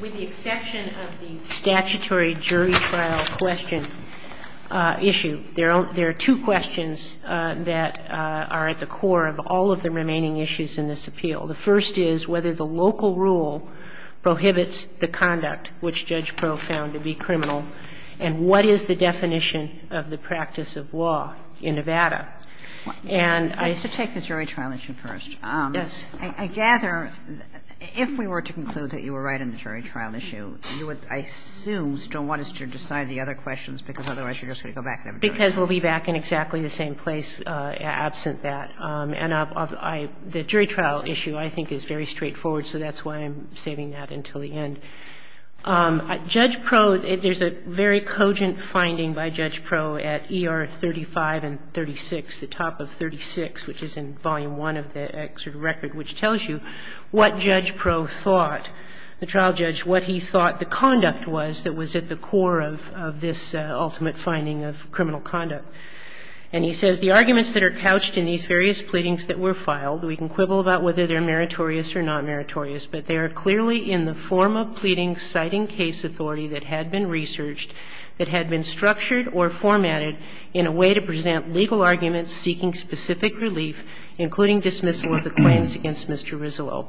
With the exception of the statutory jury trial question issue, there are two questions that are at the core of all of the remaining issues in this appeal. The first is whether the local rule prohibits the conduct which Judge Proh found to be criminal, and what is the definition of the practice of law in Nevada. And I used to take the jury trial issue first. I gather if we were to conclude that you were right on the jury trial issue, you would I assume still want us to decide the other questions, because otherwise you're just going to go back and have a jury trial. Because we'll be back in exactly the same place absent that. And the jury trial issue, I think, is very straightforward, so that's why I'm saving that until the end. Judge Proh, there's a very cogent finding by Judge Proh at E.R. 35 and 36, the top of 36, which is in Volume I of the excerpt record, which tells you what Judge Proh thought, the trial judge, what he thought the conduct was that was at the core of this ultimate finding of criminal conduct. And he says, The arguments that are couched in these various pleadings that were filed, we can quibble about whether they're meritorious or not meritorious, but they are clearly in the form of pleadings citing case authority that had been researched, that had been structured or formatted in a way to present legal arguments seeking specific relief, including dismissal of the claims against Mr. Rizzolo.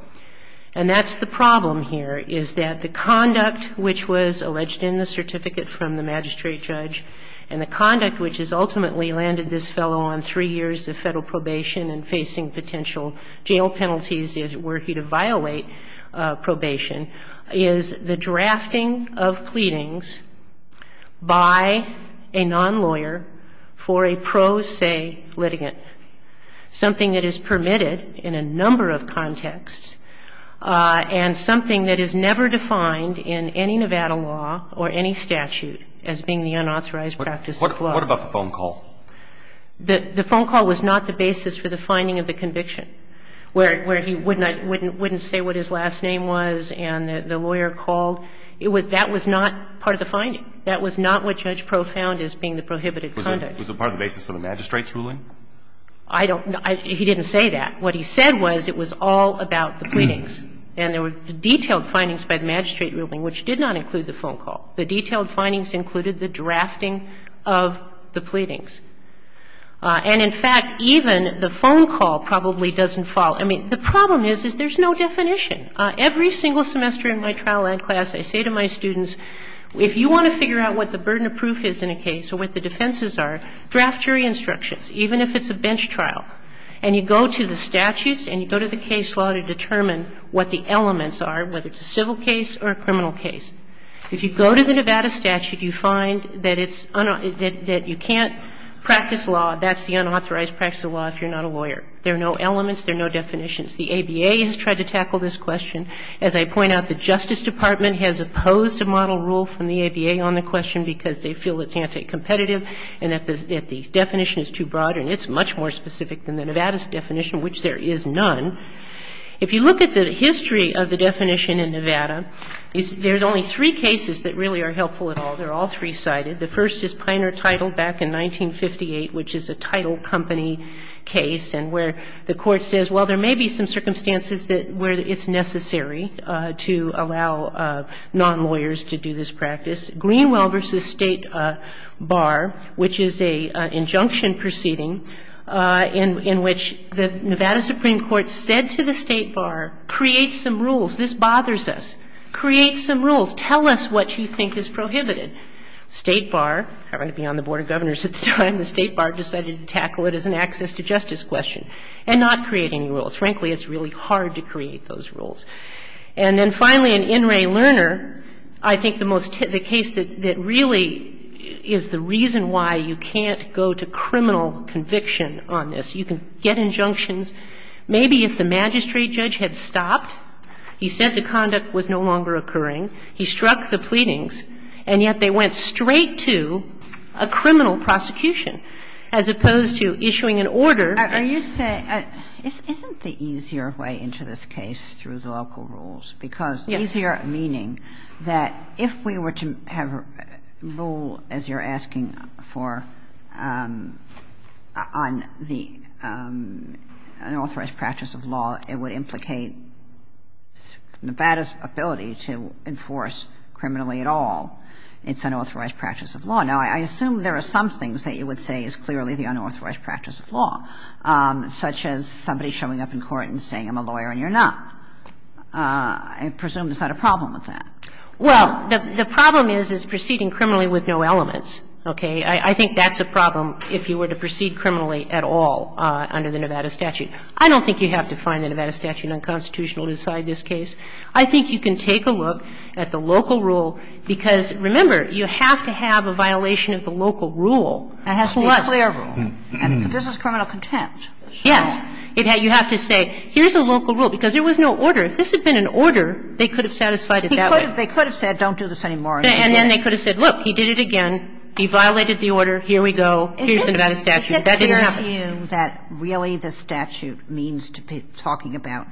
And that's the problem here, is that the conduct which was alleged in the certificate from the magistrate judge and the conduct which has ultimately landed this fellow on three years of Federal probation and facing potential jail penalties if he were to be acquitted, is the drafting of pleadings by a non-lawyer for a pro se litigant, something that is permitted in a number of contexts and something that is never defined in any Nevada law or any statute as being the unauthorized practice of the law. What about the phone call? The phone call was not the basis for the finding of the conviction, where he wouldn't say what his last name was and the lawyer called. It was that was not part of the finding. That was not what Judge Pro Found is being the prohibited conduct. Was it part of the basis for the magistrate's ruling? I don't know. He didn't say that. What he said was it was all about the pleadings. And there were detailed findings by the magistrate ruling which did not include the phone call. The detailed findings included the drafting of the pleadings. And in fact, even the phone call probably doesn't follow. I mean, the problem is, is there's no definition. Every single semester in my trial ad class, I say to my students, if you want to figure out what the burden of proof is in a case or what the defenses are, draft your instructions, even if it's a bench trial. And you go to the statutes and you go to the case law to determine what the elements are, whether it's a civil case or a criminal case. If you go to the Nevada statute, you find that it's unauthorized, that you can't practice law, that's the unauthorized practice of law if you're not a lawyer. There are no elements. There are no definitions. The ABA has tried to tackle this question. As I point out, the Justice Department has opposed a model rule from the ABA on the question because they feel it's anti-competitive and that the definition is too broad and it's much more specific than the Nevada's definition, which there is none. If you look at the history of the definition in Nevada, there's only three cases that really are helpful at all. They're all three-sided. The first is Piner-Title back in 1958, which is a title company case, and where the Court says, well, there may be some circumstances where it's necessary to allow non-lawyers to do this practice. Greenwell v. State Bar, which is an injunction proceeding in which the Nevada Supreme Court said to the State Bar, create some rules, this bothers us, create some rules, tell us what you think is prohibited. State Bar, I don't want to be on the Board of Governors at the time, the State Bar decided to tackle it as an access to justice question and not create any rules. Frankly, it's really hard to create those rules. And then finally, in In re Lerner, I think the most typical case that really is the reason why you can't go to criminal conviction on this, you can get injunctions maybe if the magistrate judge had stopped, he said the conduct was no longer occurring, he struck the pleadings, and yet they went straight to a criminal prosecution as opposed to issuing an order. Kagan. Are you saying isn't the easier way into this case through the local rules? Because the easier meaning that if we were to have a rule, as you're asking for, on the unauthorized practice of law, it would implicate Nevada's ability to enforce criminally at all, it's unauthorized practice of law. Now, I assume there are some things that you would say is clearly the unauthorized practice of law, such as somebody showing up in court and saying I'm a lawyer and you're not. I presume there's not a problem with that. Well, the problem is, is proceeding criminally with no elements, okay? I think that's a problem if you were to proceed criminally at all under the Nevada statute. I don't think you have to find the Nevada statute unconstitutional to decide this case. I think you can take a look at the local rule, because, remember, you have to have a violation of the local rule. It has to be a clear rule. And this is criminal contempt. Yes. You have to say here's a local rule, because there was no order. If this had been an order, they could have satisfied it that way. They could have said don't do this anymore. And then they could have said, look, he did it again. He violated the order. Here we go. Here's the Nevada statute. That didn't happen. Is it fair to assume that really the statute means to be talking about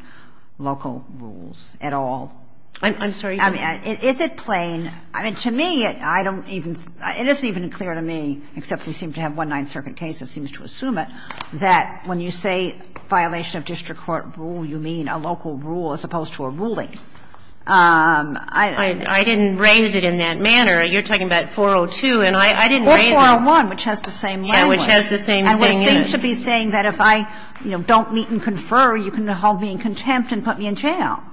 local rules at all? I'm sorry. Is it plain? I mean, to me, I don't even – it isn't even clear to me, except we seem to have one Ninth Circuit case that seems to assume it, that when you say violation of district court rule, you mean a local rule as opposed to a ruling. I didn't raise it in that manner. You're talking about 402, and I didn't raise it. Or 401, which has the same language. Yeah, which has the same thing in it. And it seems to be saying that if I, you know, don't meet and confer, you can hold me in contempt and put me in jail.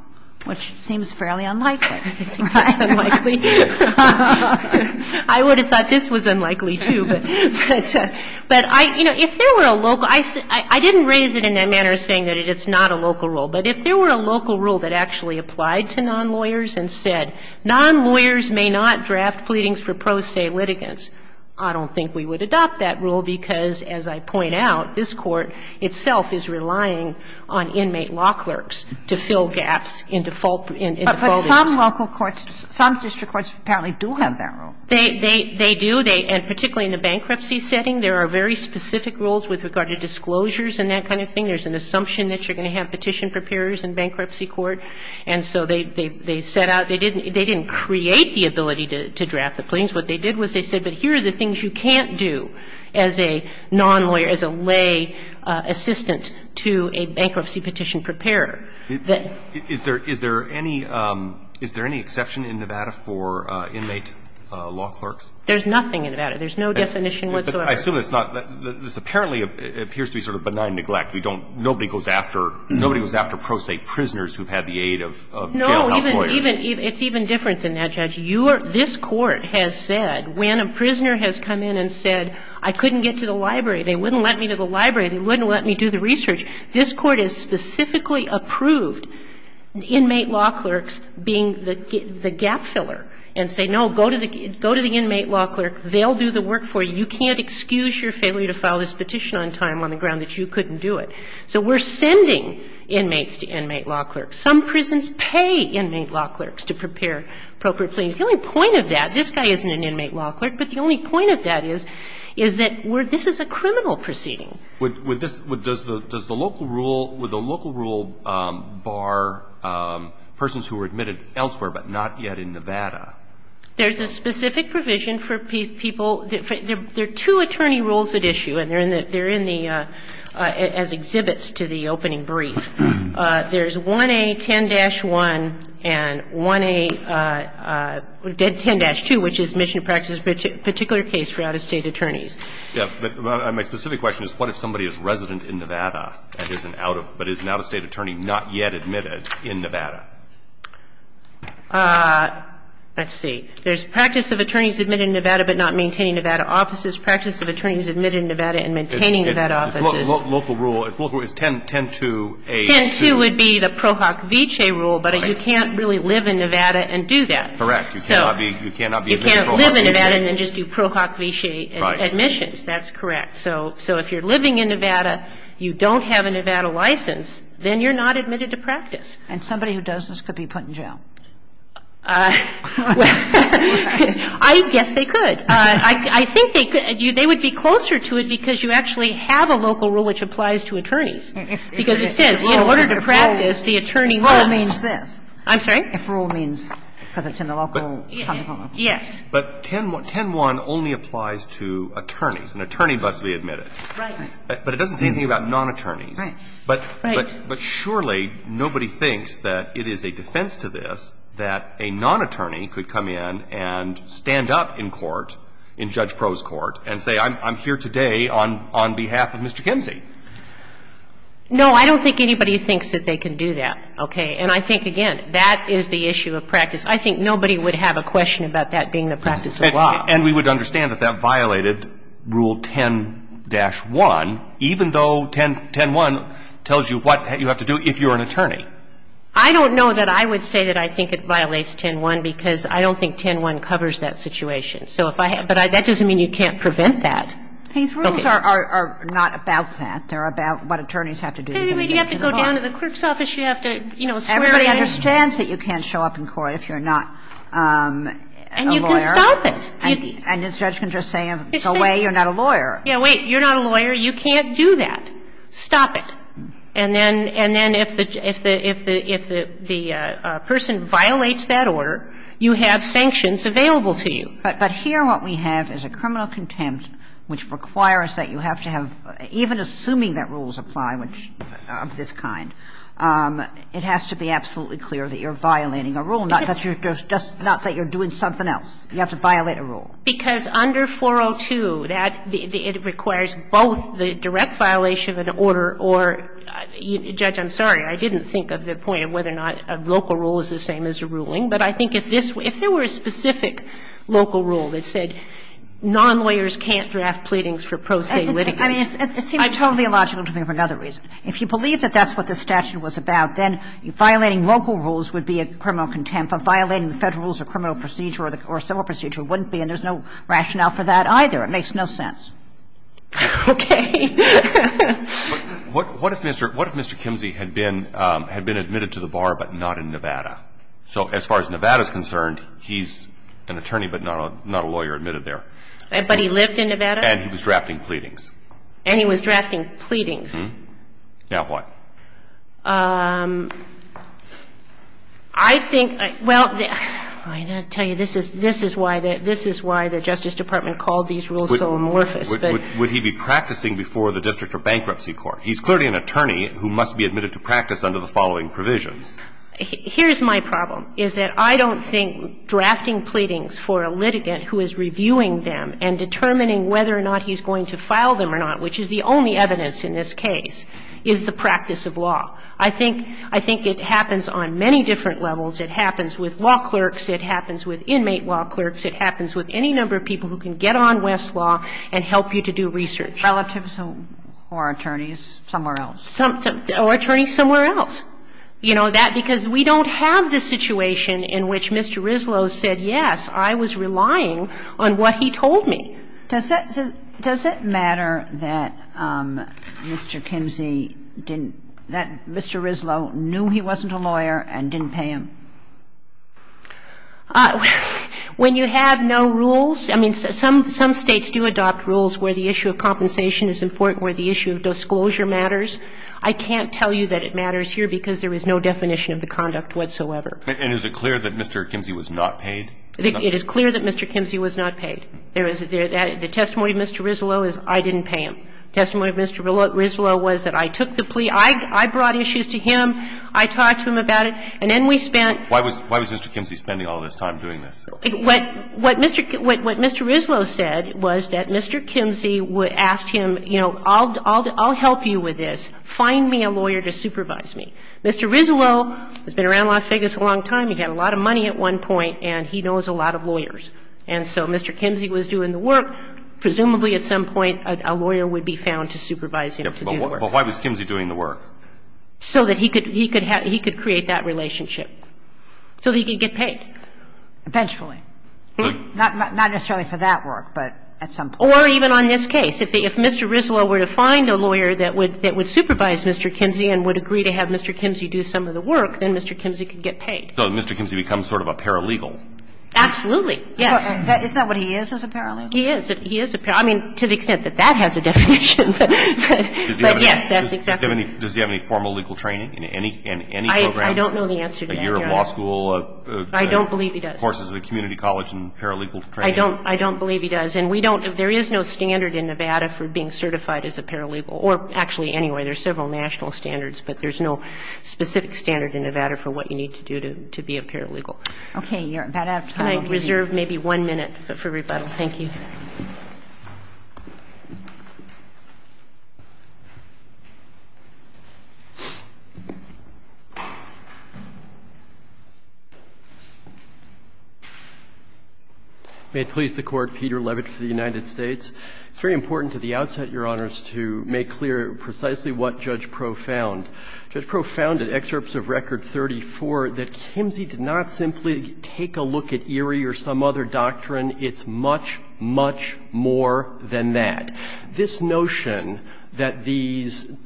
Which seems fairly unlikely. I think that's unlikely. I would have thought this was unlikely, too. But, you know, if there were a local – I didn't raise it in that manner, saying that it's not a local rule. But if there were a local rule that actually applied to nonlawyers and said, nonlawyers may not draft pleadings for pro se litigants, I don't think we would adopt that rule, because, as I point out, this Court itself is relying on inmate law clerks to fill gaps in defaulting. But some local courts, some district courts apparently do have that rule. They do. And particularly in the bankruptcy setting, there are very specific rules with regard to disclosures and that kind of thing. There's an assumption that you're going to have petition preparers in bankruptcy court. And so they set out – they didn't create the ability to draft the pleadings. What they did was they said, but here are the things you can't do as a nonlawyer, as a lay assistant to a bankruptcy petition preparer. Is there any – is there any exception in Nevada for inmate law clerks? There's nothing in Nevada. There's no definition whatsoever. I assume it's not – this apparently appears to be sort of benign neglect. We don't – nobody goes after – nobody goes after pro se prisoners who've had the aid of jail health lawyers. No, even – it's even different than that, Judge. You are – this Court has said, when a prisoner has come in and said, I couldn't get to the library, they wouldn't let me to the library, they wouldn't let me do the research. This Court has specifically approved inmate law clerks being the gap filler and say, no, go to the – go to the inmate law clerk, they'll do the work for you, you can't excuse your failure to file this petition on time on the ground that you couldn't do it. So we're sending inmates to inmate law clerks. Some prisons pay inmate law clerks to prepare appropriate pleadings. The only point of that – this guy isn't an inmate law clerk, but the only point of that is, is that we're – this is a criminal proceeding. With this – does the – does the local rule – would the local rule bar persons who were admitted elsewhere but not yet in Nevada? There's a specific provision for people – there are two attorney rules at issue, and they're in the – as exhibits to the opening brief. There's 1A10-1 and 1A – 10-2, which is mission practice particular case for out-of-state attorneys. My specific question is, what if somebody is resident in Nevada but is an out-of-state attorney not yet admitted in Nevada? Let's see. There's practice of attorneys admitted in Nevada but not maintaining Nevada offices, practice of attorneys admitted in Nevada and maintaining Nevada offices. Local rule – it's local – it's 10-2-A-2. 10-2 would be the Pro Hoc Vice rule, but you can't really live in Nevada and do that. You cannot be – you cannot be an inmate Pro Hoc Vice. You can't live in Nevada and then just do Pro Hoc Vice admissions. That's correct. So if you're living in Nevada, you don't have a Nevada license, then you're not admitted to practice. And somebody who does this could be put in jail? I guess they could. I think they could – they would be closer to it because you actually have a local rule which applies to attorneys. Because it says in order to practice, the attorney rules. If rule means this. I'm sorry? If rule means – because it's in the local – Yes. But 10-1 only applies to attorneys. An attorney must be admitted. Right. But it doesn't say anything about non-attorneys. Right. But surely nobody thinks that it is a defense to this that a non-attorney could come in and stand up in court, in Judge Pro's court, and say, I'm here today on behalf of Mr. Kinsey. No, I don't think anybody thinks that they can do that, okay? And I think, again, that is the issue of practice. I think nobody would have a question about that being the practice of law. And we would understand that that violated Rule 10-1, even though 10-1 tells you what you have to do if you're an attorney. I don't know that I would say that I think it violates 10-1 because I don't think 10-1 covers that situation. So if I – but that doesn't mean you can't prevent that. These rules are not about that. They're about what attorneys have to do. You have to go down to the clerk's office. You have to, you know, swear in. And nobody understands that you can't show up in court if you're not a lawyer. And you can stop it. And the judge can just say, go away, you're not a lawyer. Yeah, wait, you're not a lawyer. You can't do that. Stop it. And then if the person violates that order, you have sanctions available to you. But here what we have is a criminal contempt which requires that you have to have Even assuming that rules apply of this kind, it has to be absolutely clear that you're violating a rule, not that you're doing something else. You have to violate a rule. Because under 402, it requires both the direct violation of an order or – Judge, I'm sorry. I didn't think of the point of whether or not a local rule is the same as a ruling. But I think if this – if there were a specific local rule that said non-lawyers can't draft pleadings for pro se litigants. I mean, it seems totally illogical to me for another reason. If you believe that that's what this statute was about, then violating local rules would be a criminal contempt. But violating the Federal rules of criminal procedure or civil procedure wouldn't be. And there's no rationale for that either. It makes no sense. Okay. What if Mr. – what if Mr. Kimsey had been – had been admitted to the bar but not in Nevada? So as far as Nevada's concerned, he's an attorney but not a lawyer admitted there. But he lived in Nevada? And he was drafting pleadings. And he was drafting pleadings. Now what? I think – well, I've got to tell you, this is – this is why the – this is why the Justice Department called these rules so amorphous. Would he be practicing before the district or bankruptcy court? He's clearly an attorney who must be admitted to practice under the following provisions. Here's my problem, is that I don't think drafting pleadings for a litigant who is not a law enforcement officer is the way to know whether you've filed them or not, which is the only evidence in this case, is the practice of law. I think – I think it happens on many different levels. It happens with law clerks. It happens with inmate law clerks. It happens with any number of people who can get on Westlaw and help you to do research. Relatives or attorneys somewhere else. Or attorneys somewhere else. You know, that – because we don't have the situation in which Mr. Rislow said, yes, I was relying on what he told me. Does that – does it matter that Mr. Kimsey didn't – that Mr. Rislow knew he wasn't a lawyer and didn't pay him? When you have no rules – I mean, some states do adopt rules where the issue of compensation is important, where the issue of disclosure matters. I can't tell you that it matters here because there is no definition of the conduct whatsoever. And is it clear that Mr. Kimsey was not paid? It is clear that Mr. Kimsey was not paid. There is – the testimony of Mr. Rislow is I didn't pay him. The testimony of Mr. Rislow was that I took the plea. I brought issues to him. I talked to him about it. And then we spent – Why was Mr. Kimsey spending all this time doing this? What Mr. Rislow said was that Mr. Kimsey asked him, you know, I'll help you with this. Find me a lawyer to supervise me. Mr. Rislow has been around Las Vegas a long time. He had a lot of money at one point, and he knows a lot of lawyers. And so Mr. Kimsey was doing the work. Presumably at some point a lawyer would be found to supervise him to do the work. But why was Kimsey doing the work? So that he could – he could have – he could create that relationship. So that he could get paid. Eventually. Not necessarily for that work, but at some point. Or even on this case, if they – if Mr. Rislow were to find a lawyer that would – that would supervise Mr. Kimsey and would agree to have Mr. Kimsey do some of the work, then Mr. Kimsey could get paid. So Mr. Kimsey becomes sort of a paralegal? Absolutely. Yes. Isn't that what he is, is a paralegal? He is. He is a – I mean, to the extent that that has a definition. But yes, that's exactly – Does he have any formal legal training in any – in any program? I don't know the answer to that, Your Honor. A year of law school? I don't believe he does. Courses at a community college and paralegal training? I don't – I don't believe he does. And we don't – there is no standard in Nevada for being certified as a paralegal. Or actually, anyway, there's several national standards, but there's no specific standard in Nevada for what you need to do to be a paralegal. Okay. You're about out of time. I reserve maybe one minute for rebuttal. May it please the Court, Peter Levitt, for the next question. абев ipinc1 Acting Judge Pro found that excerpts of Record 34 that Kimsey did not simply take a look at ERI or some other doctrine. It's much, much more than that. This notion that these –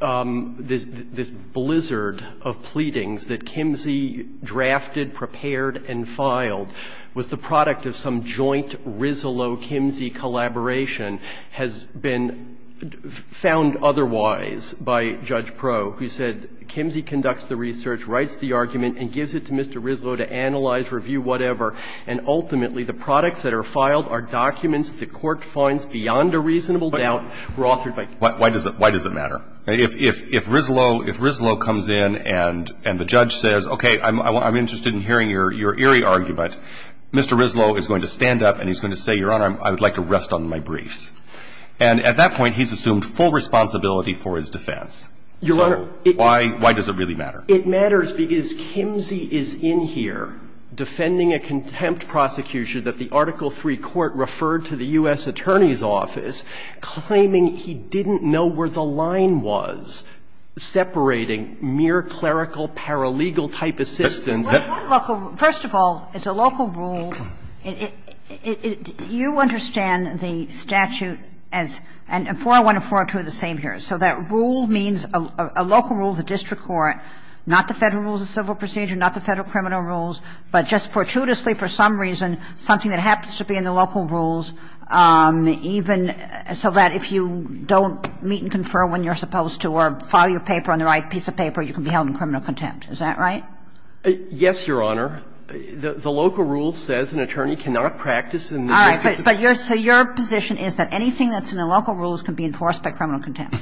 this blizzard of pleadings that Kimsey drafted, prepared, and filed was the product of some joint Rislow-Kimsey collaboration has been found otherwise by Judge Pro, who said, Kimsey conducts the research, writes the argument, and gives it to Mr. Rislow to analyze, review, whatever. And ultimately, the products that are filed are documents the Court finds beyond a reasonable doubt were authored by Kimsey. But why does it matter? If Rislow comes in and the judge says, okay, I'm interested in hearing your ERI argument, Mr. Rislow is going to stand up and he's going to say, Your Honor, I would like to rest on my briefs. And at that point, he's assumed full responsibility for his defense. So why does it really matter? In 1904, an official from Appeal 3 court referred to the U.S. Attorney's office, claiming he didn't know where the line was separating mere clerical paralegal-type assistants. Kagan. So that rule means – a local rule of the district court, not the Federal rules of civil procedure, not the Federal criminal rules, but just fortuitously, for some reason, something that happens to be in the local rules, even so that if you don't meet and confer when you're supposed to or file your paper on the right piece of paper, you can be held in criminal contempt. Is that right? Yes, Your Honor. The local rule says an attorney cannot practice in the district court. All right. But your – so your position is that anything that's in the local rules can be enforced by criminal contempt?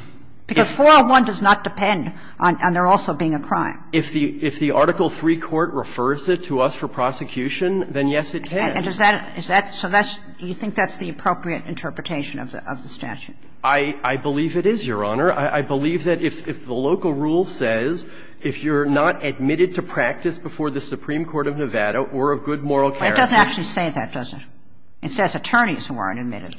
Because 401 does not depend on there also being a crime. If the – if the Article 3 court refers it to us for prosecution, then yes, it can. And does that – is that – so that's – you think that's the appropriate interpretation of the statute? I believe it is, Your Honor. I believe that if the local rule says if you're not admitted to practice before the Supreme Court of Nevada or a good moral character – It doesn't actually say that, does it? It says attorneys who aren't admitted.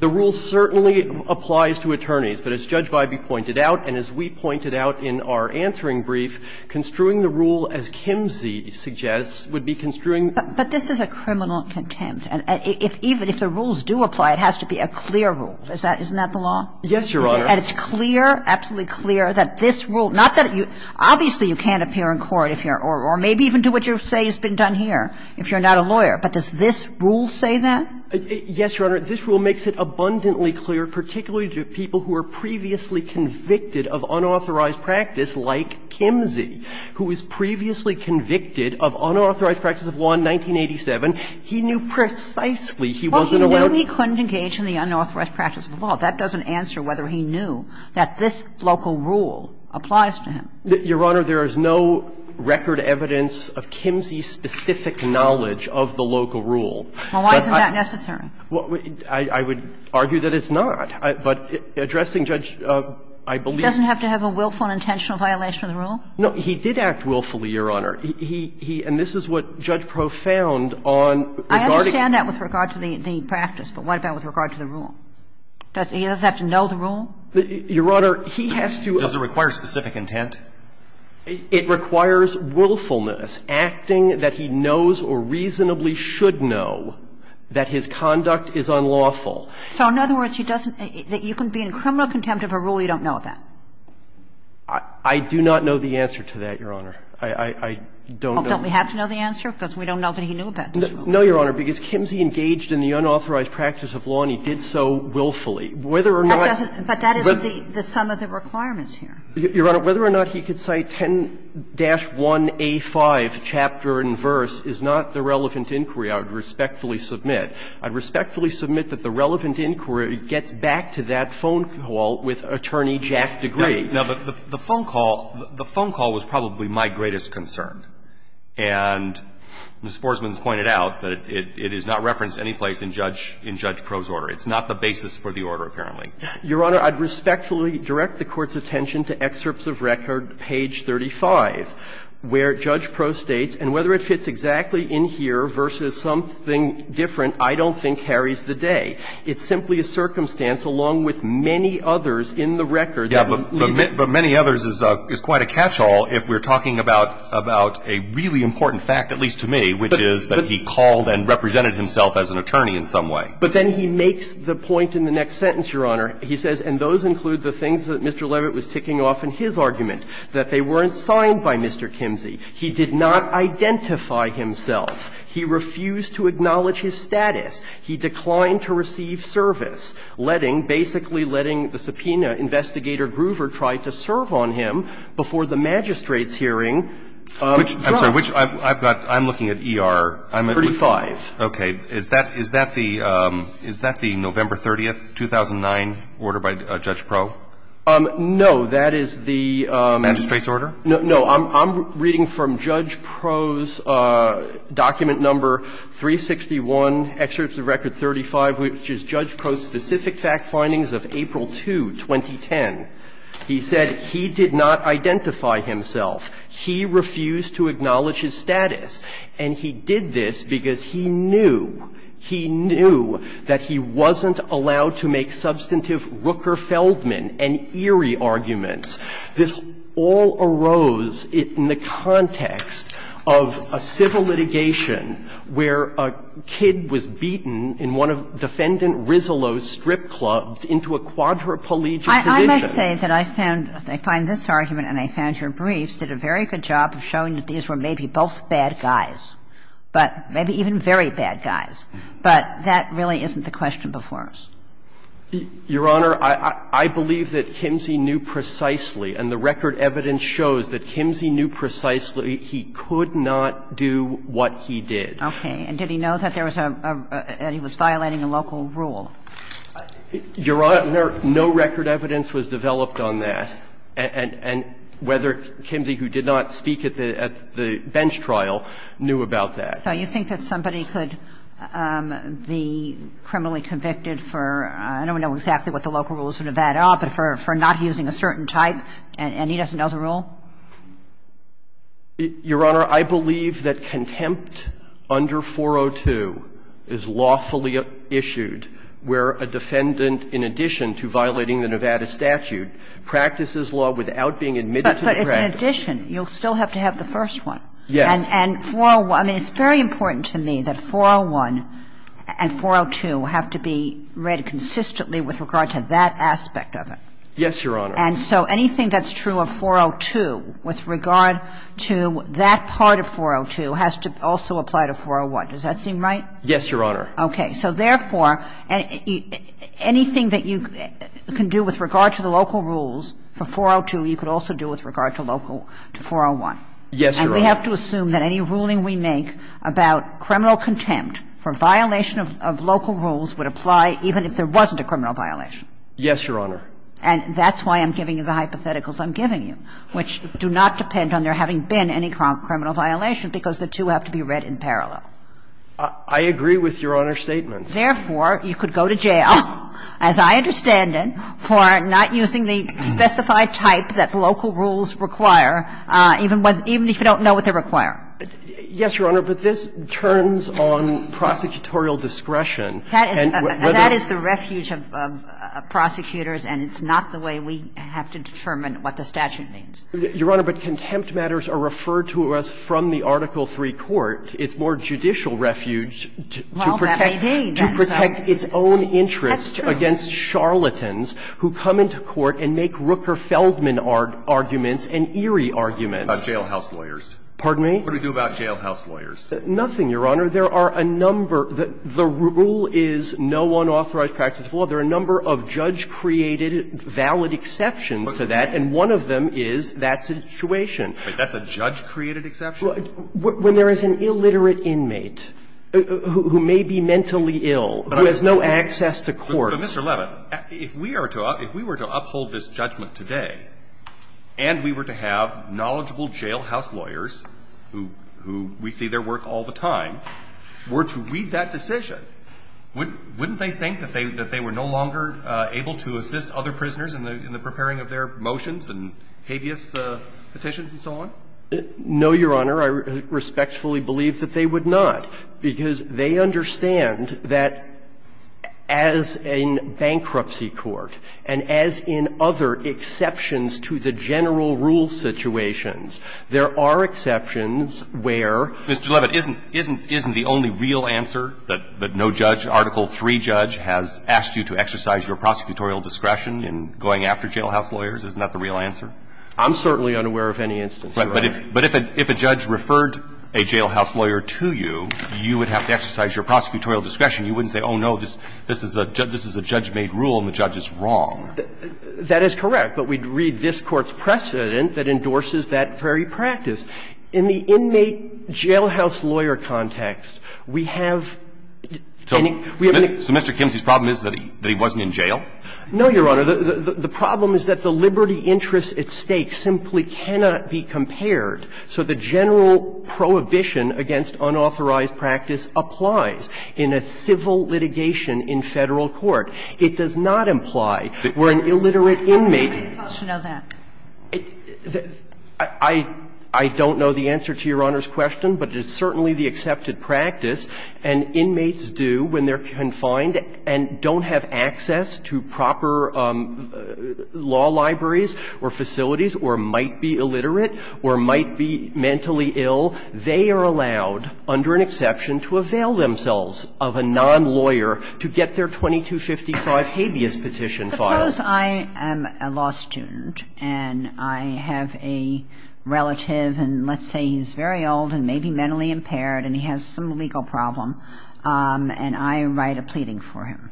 The rule certainly applies to attorneys, but as Judge Biby pointed out and as we pointed out in our answering brief, construing the rule as Kimsey suggests would be construing But this is a criminal contempt. And if – even if the rules do apply, it has to be a clear rule. Is that – isn't that the law? Yes, Your Honor. And it's clear, absolutely clear, that this rule – not that you – obviously you can't appear in court if you're – or maybe even do what you say has been done here if you're not a lawyer. But does this rule say that? Yes, Your Honor. This rule makes it abundantly clear, particularly to people who are previously convicted of unauthorized practice like Kimsey, who was previously convicted of unauthorized practice of law in 1987. He knew precisely he wasn't allowed to – Well, he knew he couldn't engage in the unauthorized practice of law. That doesn't answer whether he knew that this local rule applies to him. Your Honor, there is no record evidence of Kimsey's specific knowledge of the local rule. Well, why isn't that necessary? Well, I would argue that it's not. But addressing Judge, I believe – He doesn't have to have a willful and intentional violation of the rule? No. He did act willfully, Your Honor. He – and this is what Judge Proff found on – I understand that with regard to the practice. But what about with regard to the rule? He doesn't have to know the rule? Your Honor, he has to – Does it require specific intent? It requires willfulness, acting that he knows or reasonably should know that his conduct is unlawful. So in other words, he doesn't – that you can be in criminal contempt of a rule you don't know about? I do not know the answer to that, Your Honor. I don't know – Don't we have to know the answer? Because we don't know that he knew about this rule. No, Your Honor, because Kimsey engaged in the unauthorized practice of law and he did so willfully. Whether or not – But that isn't the sum of the requirements here. Your Honor, whether or not he could cite 10-1A5, chapter and verse, is not the relevant inquiry I would respectfully submit. I would respectfully submit that the relevant inquiry gets back to that phone call with Attorney Jack DeGree. Now, the phone call – the phone call was probably my greatest concern. And Ms. Forsman has pointed out that it is not referenced anyplace in Judge – in Judge Proh's order. It's not the basis for the order, apparently. Your Honor, I would respectfully direct the Court's attention to excerpts of record, page 35, where Judge Proh states, and whether it fits exactly in here versus something different, I don't think carries the day. It's simply a circumstance, along with many others in the record that we need. But many others is quite a catch-all if we're talking about a really important fact, at least to me, which is that he called and represented himself as an attorney in some way. But then he makes the point in the next sentence, Your Honor. He says, and those include the things that Mr. Levitt was ticking off in his argument, that they weren't signed by Mr. Kimsey. He did not identify himself. He refused to acknowledge his status. He declined to receive service, letting – basically letting the subpoena investigator Groover try to serve on him before the magistrate's hearing dropped. I'm sorry. Which – I've got – I'm looking at ER. I'm looking at – 35. Okay. Is that – is that the – is that the November 30th, 2009 order by Judge Proh? No. That is the – Magistrate's order? No. I'm reading from Judge Proh's document number 361, excerpt of record 35, which is Judge Proh's specific fact findings of April 2, 2010. He said he did not identify himself. He refused to acknowledge his status. And he did this because he knew, he knew that he wasn't allowed to make substantive Rooker-Feldman and Erie arguments. This all arose in the context of a civil litigation where a kid was beaten in one of Defendant Rizzolo's strip clubs into a quadriplegic position. I must say that I found – I find this argument and I found your briefs did a very good job of showing that these were maybe both bad guys, but maybe even very bad guys. But that really isn't the question before us. Your Honor, I believe that Kimsey knew precisely, and the record evidence shows that Kimsey knew precisely he could not do what he did. Okay. And did he know that there was a – that he was violating a local rule? Your Honor, no record evidence was developed on that, and whether Kimsey, who did not speak at the bench trial, knew about that. So you think that somebody could be criminally convicted for – I don't know exactly what the local rules of Nevada are, but for not using a certain type, and he doesn't know the rule? Your Honor, I believe that contempt under 402 is lawfully issued where a defendant, in addition to violating the Nevada statute, practices law without being admitted to the practice. But in addition, you'll still have to have the first one. Yes. And 401 – I mean, it's very important to me that 401 and 402 have to be read consistently with regard to that aspect of it. Yes, Your Honor. And so anything that's true of 402 with regard to that part of 402 has to also apply to 401. Does that seem right? Yes, Your Honor. Okay. So therefore, anything that you can do with regard to the local rules for 402, you could also do with regard to local – to 401. Yes, Your Honor. And we have to assume that any ruling we make about criminal contempt for violation of local rules would apply even if there wasn't a criminal violation. Yes, Your Honor. And that's why I'm giving you the hypotheticals I'm giving you, which do not depend on there having been any criminal violation, because the two have to be read in parallel. I agree with Your Honor's statements. Therefore, you could go to jail, as I understand it, for not using the specified type that local rules require, even if you don't know what they require. Yes, Your Honor, but this turns on prosecutorial discretion. That is the refuge of prosecutors, and it's not the way we have to determine what the statute means. Your Honor, but contempt matters are referred to us from the Article III court. It's more judicial refuge to protect its own interests against charlatans who come into court and make Rooker-Feldman arguments and Erie arguments. About jailhouse lawyers. Pardon me? What do we do about jailhouse lawyers? Nothing, Your Honor. There are a number – the rule is no unauthorized practice of law. There are a number of judge-created valid exceptions to that, and one of them is that situation. That's a judge-created exception? When there is an illiterate inmate who may be mentally ill, who has no access to court. But, Mr. Levin, if we are to – if we were to uphold this judgment today, and we were to have knowledgeable jailhouse lawyers who we see their work all the time, were to read that decision, wouldn't they think that they were no longer able to assist other prisoners in the preparing of their motions and habeas petitions and so on? No, Your Honor. I respectfully believe that they would not, because they understand that as a nation in bankruptcy court and as in other exceptions to the general rule situations, there are exceptions where – Mr. Levin, isn't – isn't the only real answer that no judge, Article III judge, has asked you to exercise your prosecutorial discretion in going after jailhouse lawyers? Isn't that the real answer? I'm certainly unaware of any instance, Your Honor. But if – but if a judge referred a jailhouse lawyer to you, you would have to exercise your prosecutorial discretion. You wouldn't say, oh, no, this is a judge – this is a judge-made rule and the judge is wrong. That is correct. But we'd read this Court's precedent that endorses that very practice. In the inmate jailhouse lawyer context, we have any – we have any – So Mr. Kimsey's problem is that he wasn't in jail? No, Your Honor. The problem is that the liberty interest at stake simply cannot be compared. So the general prohibition against unauthorized practice applies in a civil litigation in Federal court. It does not imply where an illiterate inmate – What's the question of that? I don't know the answer to Your Honor's question, but it's certainly the accepted practice, and inmates do when they're confined and don't have access to proper law libraries or facilities or might be illiterate or might be mentally ill, they are allowed, under an exception, to avail themselves of a non-lawyer to get their 2255 habeas petition filed. Suppose I am a law student and I have a relative, and let's say he's very old and maybe mentally impaired and he has some legal problem, and I write a pleading for him,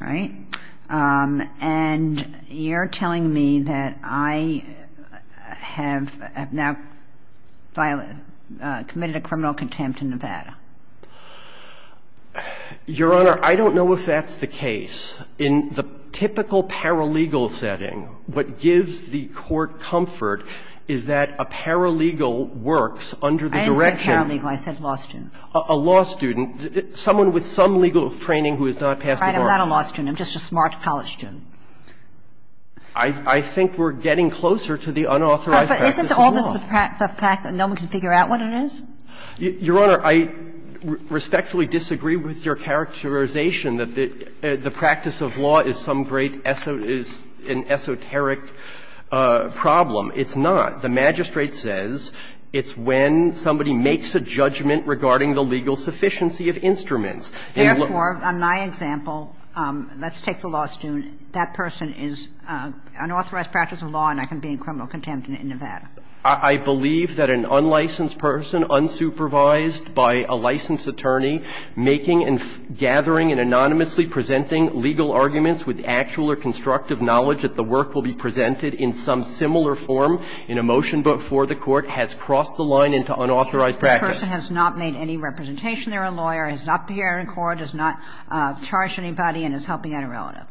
right? And you're telling me that I have now committed a criminal contempt in Nevada. Your Honor, I don't know if that's the case. In the typical paralegal setting, what gives the court comfort is that a paralegal works under the direction of – I didn't say paralegal. I said law student. A law student, someone with some legal training who has not passed the bar. I'm not a law student. I'm just a smart college student. I think we're getting closer to the unauthorized practice of law. But isn't all this the fact that no one can figure out what it is? Your Honor, I respectfully disagree with your characterization that the practice of law is some great esoteric problem. It's not. The magistrate says it's when somebody makes a judgment regarding the legal sufficiency of instruments. Therefore, on my example, let's take the law student. That person is unauthorized practice of law and I can be in criminal contempt in Nevada. I believe that an unlicensed person, unsupervised by a licensed attorney, making and gathering and anonymously presenting legal arguments with actual or constructive knowledge that the work will be presented in some similar form in a motion before the Court has crossed the line into unauthorized practice. The person has not made any representation. They're a lawyer, has not been here in court, has not charged anybody, and is helping an irrelative.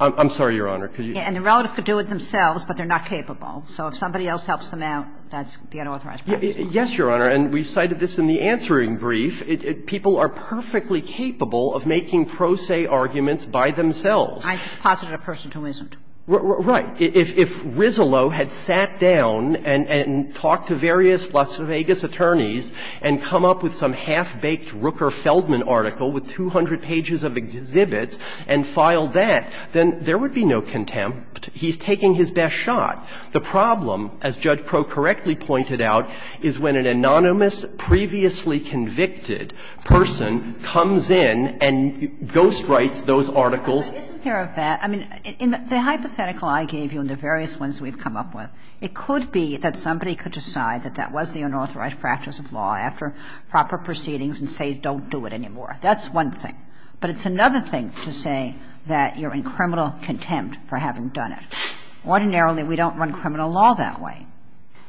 I'm sorry, Your Honor. And the relative could do it themselves, but they're not capable. So if somebody else helps them out, that's the unauthorized practice. Yes, Your Honor, and we cited this in the answering brief. People are perfectly capable of making pro se arguments by themselves. I just posited a person who isn't. Right. If Rizzolo had sat down and talked to various Las Vegas attorneys and come up with some half-baked Rooker-Feldman article with 200 pages of exhibits and filed that, then there would be no contempt. He's taking his best shot. The problem, as Judge Crowe correctly pointed out, is when an anonymous, previously convicted person comes in and ghostwrites those articles. But isn't there a bad – I mean, in the hypothetical I gave you and the various ones we've come up with, it could be that somebody could decide that that was the unauthorized practice of law after proper proceedings and say, don't do it anymore. That's one thing. But it's another thing to say that you're in criminal contempt for having done it. Ordinarily, we don't run criminal law that way,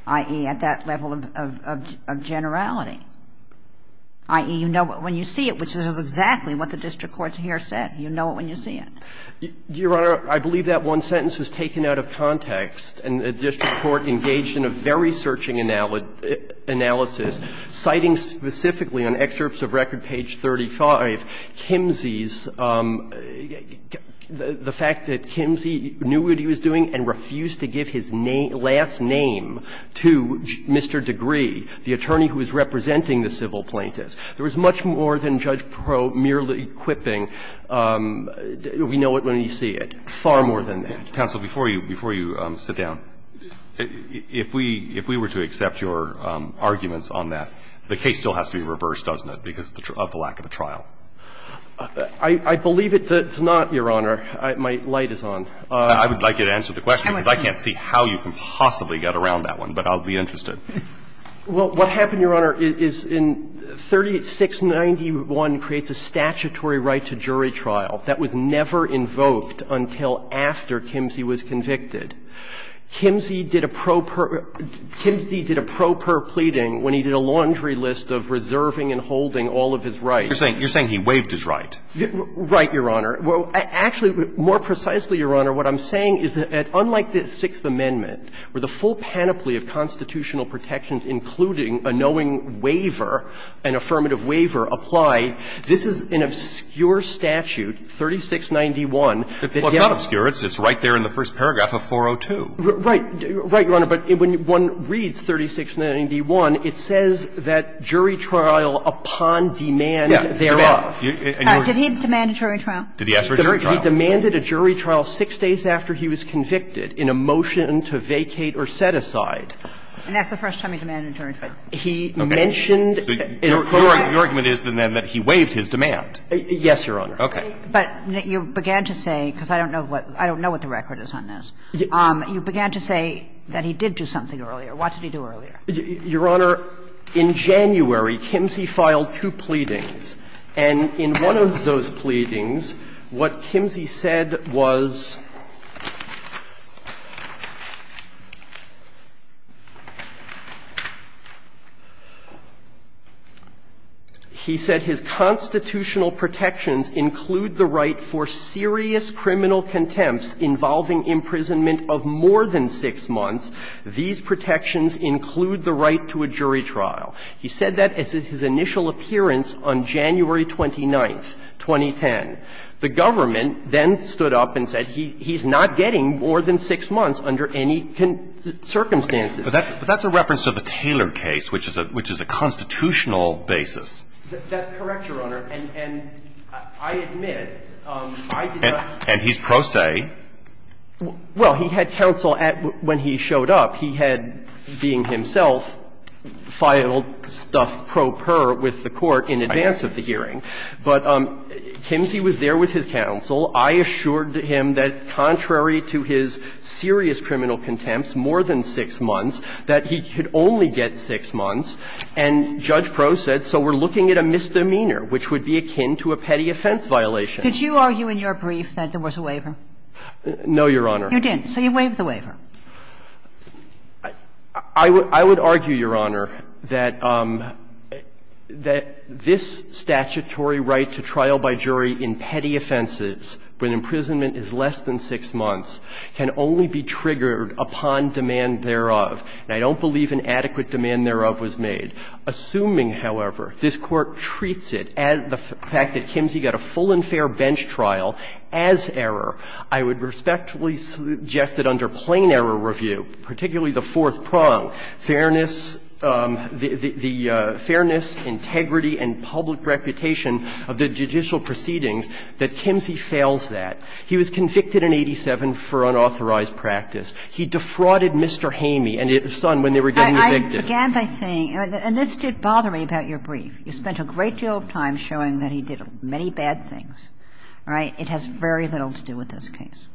i.e., at that level of generality, i.e., you know it when you see it, which is exactly what the district court here said. You know it when you see it. Waxman, Jr.: Your Honor, I believe that one sentence was taken out of context. And the district court engaged in a very searching analysis, citing specifically on excerpts of record page 35, Kimsey's – the fact that Kimsey knew what he was doing and refused to give his last name to Mr. Degree, the attorney who was representing the civil plaintiffs. There was much more than Judge Proulx merely quipping, we know it when we see it. Far more than that. Roberts. Counsel, before you – before you sit down, if we – if we were to accept your arguments on that, the case still has to be reversed, doesn't it, because of the lack of a trial? I believe it's not, Your Honor. My light is on. I would like you to answer the question, because I can't see how you can possibly get around that one. But I'll be interested. Well, what happened, Your Honor, is in 3691 creates a statutory right to jury trial that was never invoked until after Kimsey was convicted. Kimsey did a pro per – Kimsey did a pro per pleading when he did a laundry list of reserving and holding all of his rights. You're saying he waived his right. Right, Your Honor. Well, actually, more precisely, Your Honor, what I'm saying is that unlike the Sixth Amendment, which says that all of the requirements of the statute, including the right to jury trial, including protections, including a knowing waiver, an affirmative waiver applied, this is an obscure statute, 3691. It's not obscure. It's right there in the first paragraph of 402. Right. Right, Your Honor. But when one reads 3691, it says that jury trial upon demand thereof. Yes. Demand. And you're – Did he demand a jury trial? Did he ask for a jury trial? He demanded a jury trial six days after he was convicted in a motion to vacate or set aside. And that's the first time he demanded a jury trial. He mentioned in a pro per – Your argument is, then, that he waived his demand. Yes, Your Honor. Okay. But you began to say, because I don't know what – I don't know what the record is on this. You began to say that he did do something earlier. What did he do earlier? Your Honor, in January, Kimsey filed two pleadings. And in one of those pleadings, what Kimsey said was – he said his constitutional protections include the right for serious criminal contempts involving imprisonment of more than six months. These protections include the right to a jury trial. He said that at his initial appearance on January 29, 2010. The government then stood up and said he's not getting more than six months under any circumstances. But that's a reference to the Taylor case, which is a constitutional basis. That's correct, Your Honor. And I admit, I did not – And he's pro se. Well, he had counsel at – when he showed up, he had, being himself, filed stuff pro per with the Court in advance of the hearing. But Kimsey was there with his counsel. I assured him that contrary to his serious criminal contempts, more than six months, that he could only get six months. And Judge Prost said, so we're looking at a misdemeanor, which would be akin to a petty offense violation. Could you argue in your brief that there was a waiver? No, Your Honor. You didn't. So you waive the waiver. I would argue, Your Honor, that this statutory right to trial by jury in petty offenses when imprisonment is less than six months can only be triggered upon demand thereof. And I don't believe an adequate demand thereof was made. Assuming, however, this Court treats it, the fact that Kimsey got a full and fair bench trial as error, I would respectfully suggest that under plain error review, particularly the fourth prong, fairness – the fairness, integrity, and public reputation of the judicial proceedings, that Kimsey fails that. He was convicted in 87 for unauthorized practice. He defrauded Mr. Hamey and his son when they were getting evicted. I began by saying – and this did bother me about your brief. You spent a great deal of time showing that he did many bad things. All right? It has very little to do with this case.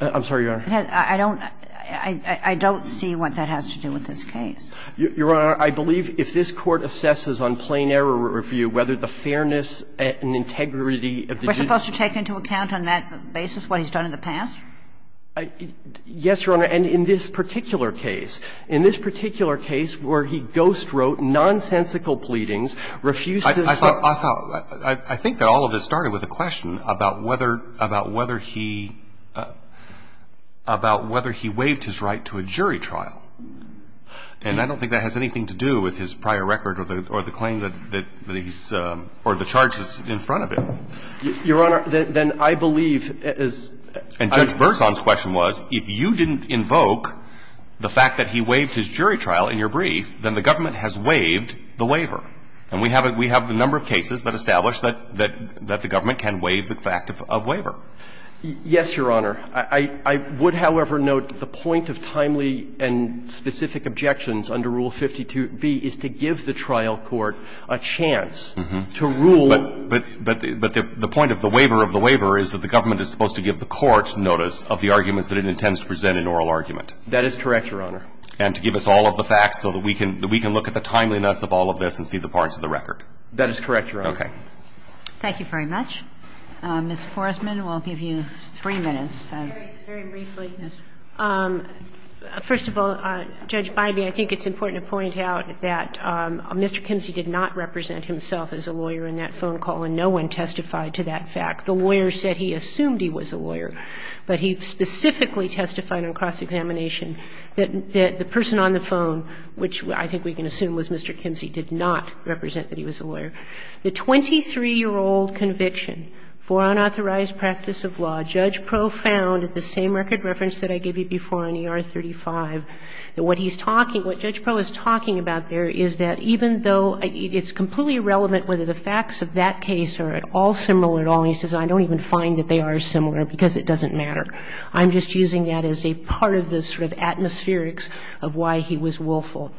I'm sorry, Your Honor. I don't – I don't see what that has to do with this case. Your Honor, I believe if this Court assesses on plain error review whether the fairness and integrity of the judicial – We're supposed to take into account on that basis what he's done in the past? Yes, Your Honor. And in this particular case, in this particular case where he ghostwrote nonsensical pleadings, refused to say – I thought – I think that all of this started with a question about whether – about whether he – about whether he waived his right to a jury trial. And I don't think that has anything to do with his prior record or the claim that he's – or the charge that's in front of him. Your Honor, then I believe, as – And Judge Berzon's question was, if you didn't invoke the fact that he waived his jury trial in your brief, then the government has waived the waiver. And we have a – we have a number of cases that establish that – that the government can waive the fact of waiver. Yes, Your Honor. I would, however, note the point of timely and specific objections under Rule 52b is to give the trial court a chance to rule. But the point of the waiver of the waiver is that the government is supposed to give the court notice of the arguments that it intends to present in oral argument. That is correct, Your Honor. And to give us all of the facts so that we can look at the timeliness of all of this and see the parts of the record. That is correct, Your Honor. Okay. Thank you very much. Ms. Forrestman, we'll give you three minutes. Very briefly, first of all, Judge Bybee, I think it's important to point out that Mr. Kimsey did not represent himself as a lawyer in that phone call, and no one testified to that fact. The lawyer said he assumed he was a lawyer, but he specifically testified on cross-examination that the person on the phone, which I think we can assume was Mr. Kimsey, did not represent that he was a lawyer. The 23-year-old conviction for unauthorized practice of law, Judge Pro found at the same record reference that I gave you before on E.R. 35, that what he's talking – what Judge Pro is talking about there is that even though it's completely irrelevant whether the facts of that case are at all similar at all, and he says, I don't even find that they are similar because it doesn't matter. I'm just using that as a part of the sort of atmospherics of why he was willful.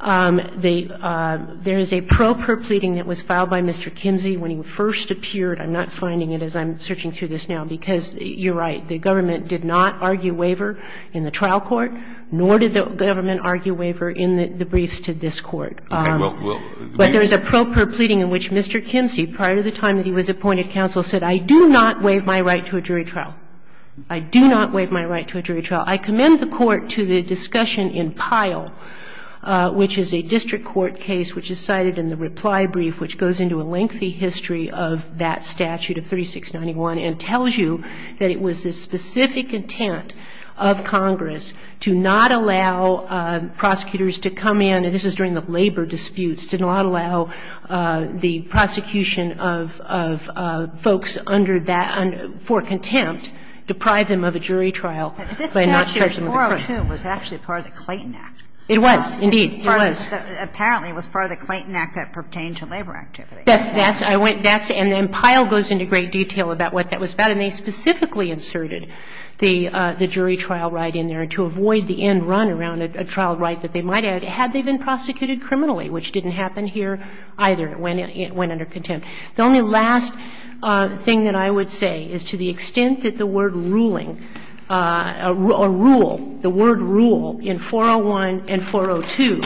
The – there is a pro per pleading that was filed by Mr. Kimsey when he first appeared. I'm not finding it as I'm searching through this now, because you're right, the government did not argue waiver in the trial court, nor did the government argue waiver in the briefs to this Court. But there is a pro per pleading in which Mr. Kimsey, prior to the time that he was appointed counsel, said, I do not waive my right to a jury trial. I do not waive my right to a jury trial. I commend the Court to the discussion in Pyle, which is a district court case which is cited in the reply brief, which goes into a lengthy history of that statute of 3691 and tells you that it was the specific intent of Congress to not allow prosecutors to come in – and this is during the labor disputes – to not allow prosecutors to come in and deprive them of a jury trial by not charging them a crime. Kagan. But this statute 402 was actually part of the Clayton Act. It was, indeed. It was. Apparently, it was part of the Clayton Act that pertained to labor activity. That's – that's – I went – that's – and then Pyle goes into great detail about what that was about. And they specifically inserted the jury trial right in there to avoid the end run around a trial right that they might have had they been prosecuted criminally, which didn't happen here either. It went under contempt. The only last thing that I would say is to the extent that the word ruling – or rule – the word rule in 401 and 402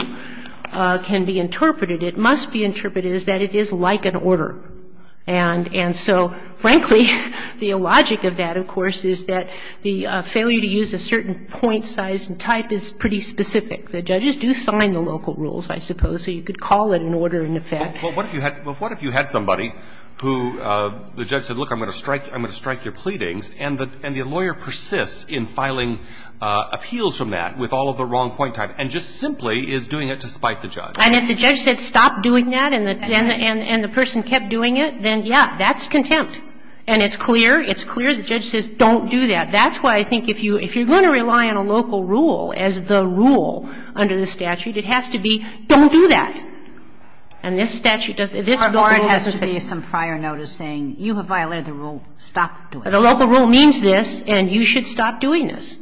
can be interpreted, it must be interpreted as that it is like an order. And – and so, frankly, the logic of that, of course, is that the failure to use a certain point, size, and type is pretty specific. The judges do sign the local rules, I suppose, so you could call it an order in effect. But what if you had – what if you had somebody who the judge said, look, I'm going to strike – I'm going to strike your pleadings, and the lawyer persists in filing appeals from that with all of the wrong point type and just simply is doing it to spite the judge? And if the judge said stop doing that and the person kept doing it, then, yeah, that's contempt. And it's clear – it's clear the judge says don't do that. That's why I think if you – if you're going to rely on a local rule as the rule under the statute, it has to be don't do that. And this statute doesn't – this local rule doesn't say stop doing that. Kagan. Or it has to be some prior notice saying you have violated the rule, stop doing it. The local rule means this, and you should stop doing this.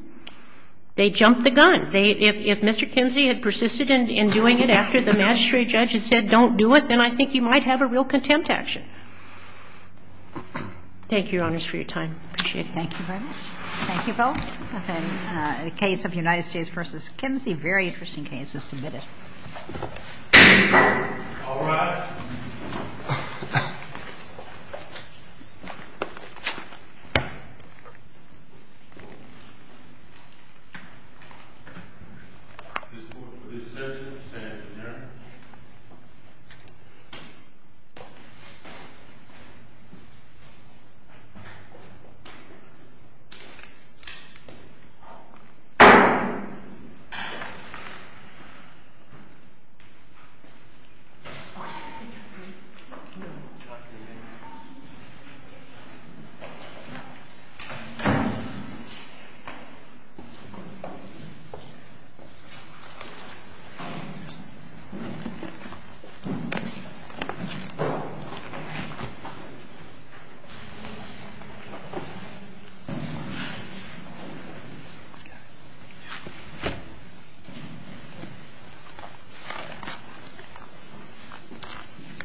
They jumped the gun. They – if Mr. Kinsey had persisted in doing it after the magistrate judge had said don't do it, then I think you might have a real contempt action. Thank you, Your Honors, for your time. I appreciate it. Thank you very much. Thank you both. Okay. The case of United States v. Kinsey, a very interesting case, is submitted. All rise. This court for this session stands adjourned. Thank you. Thank you.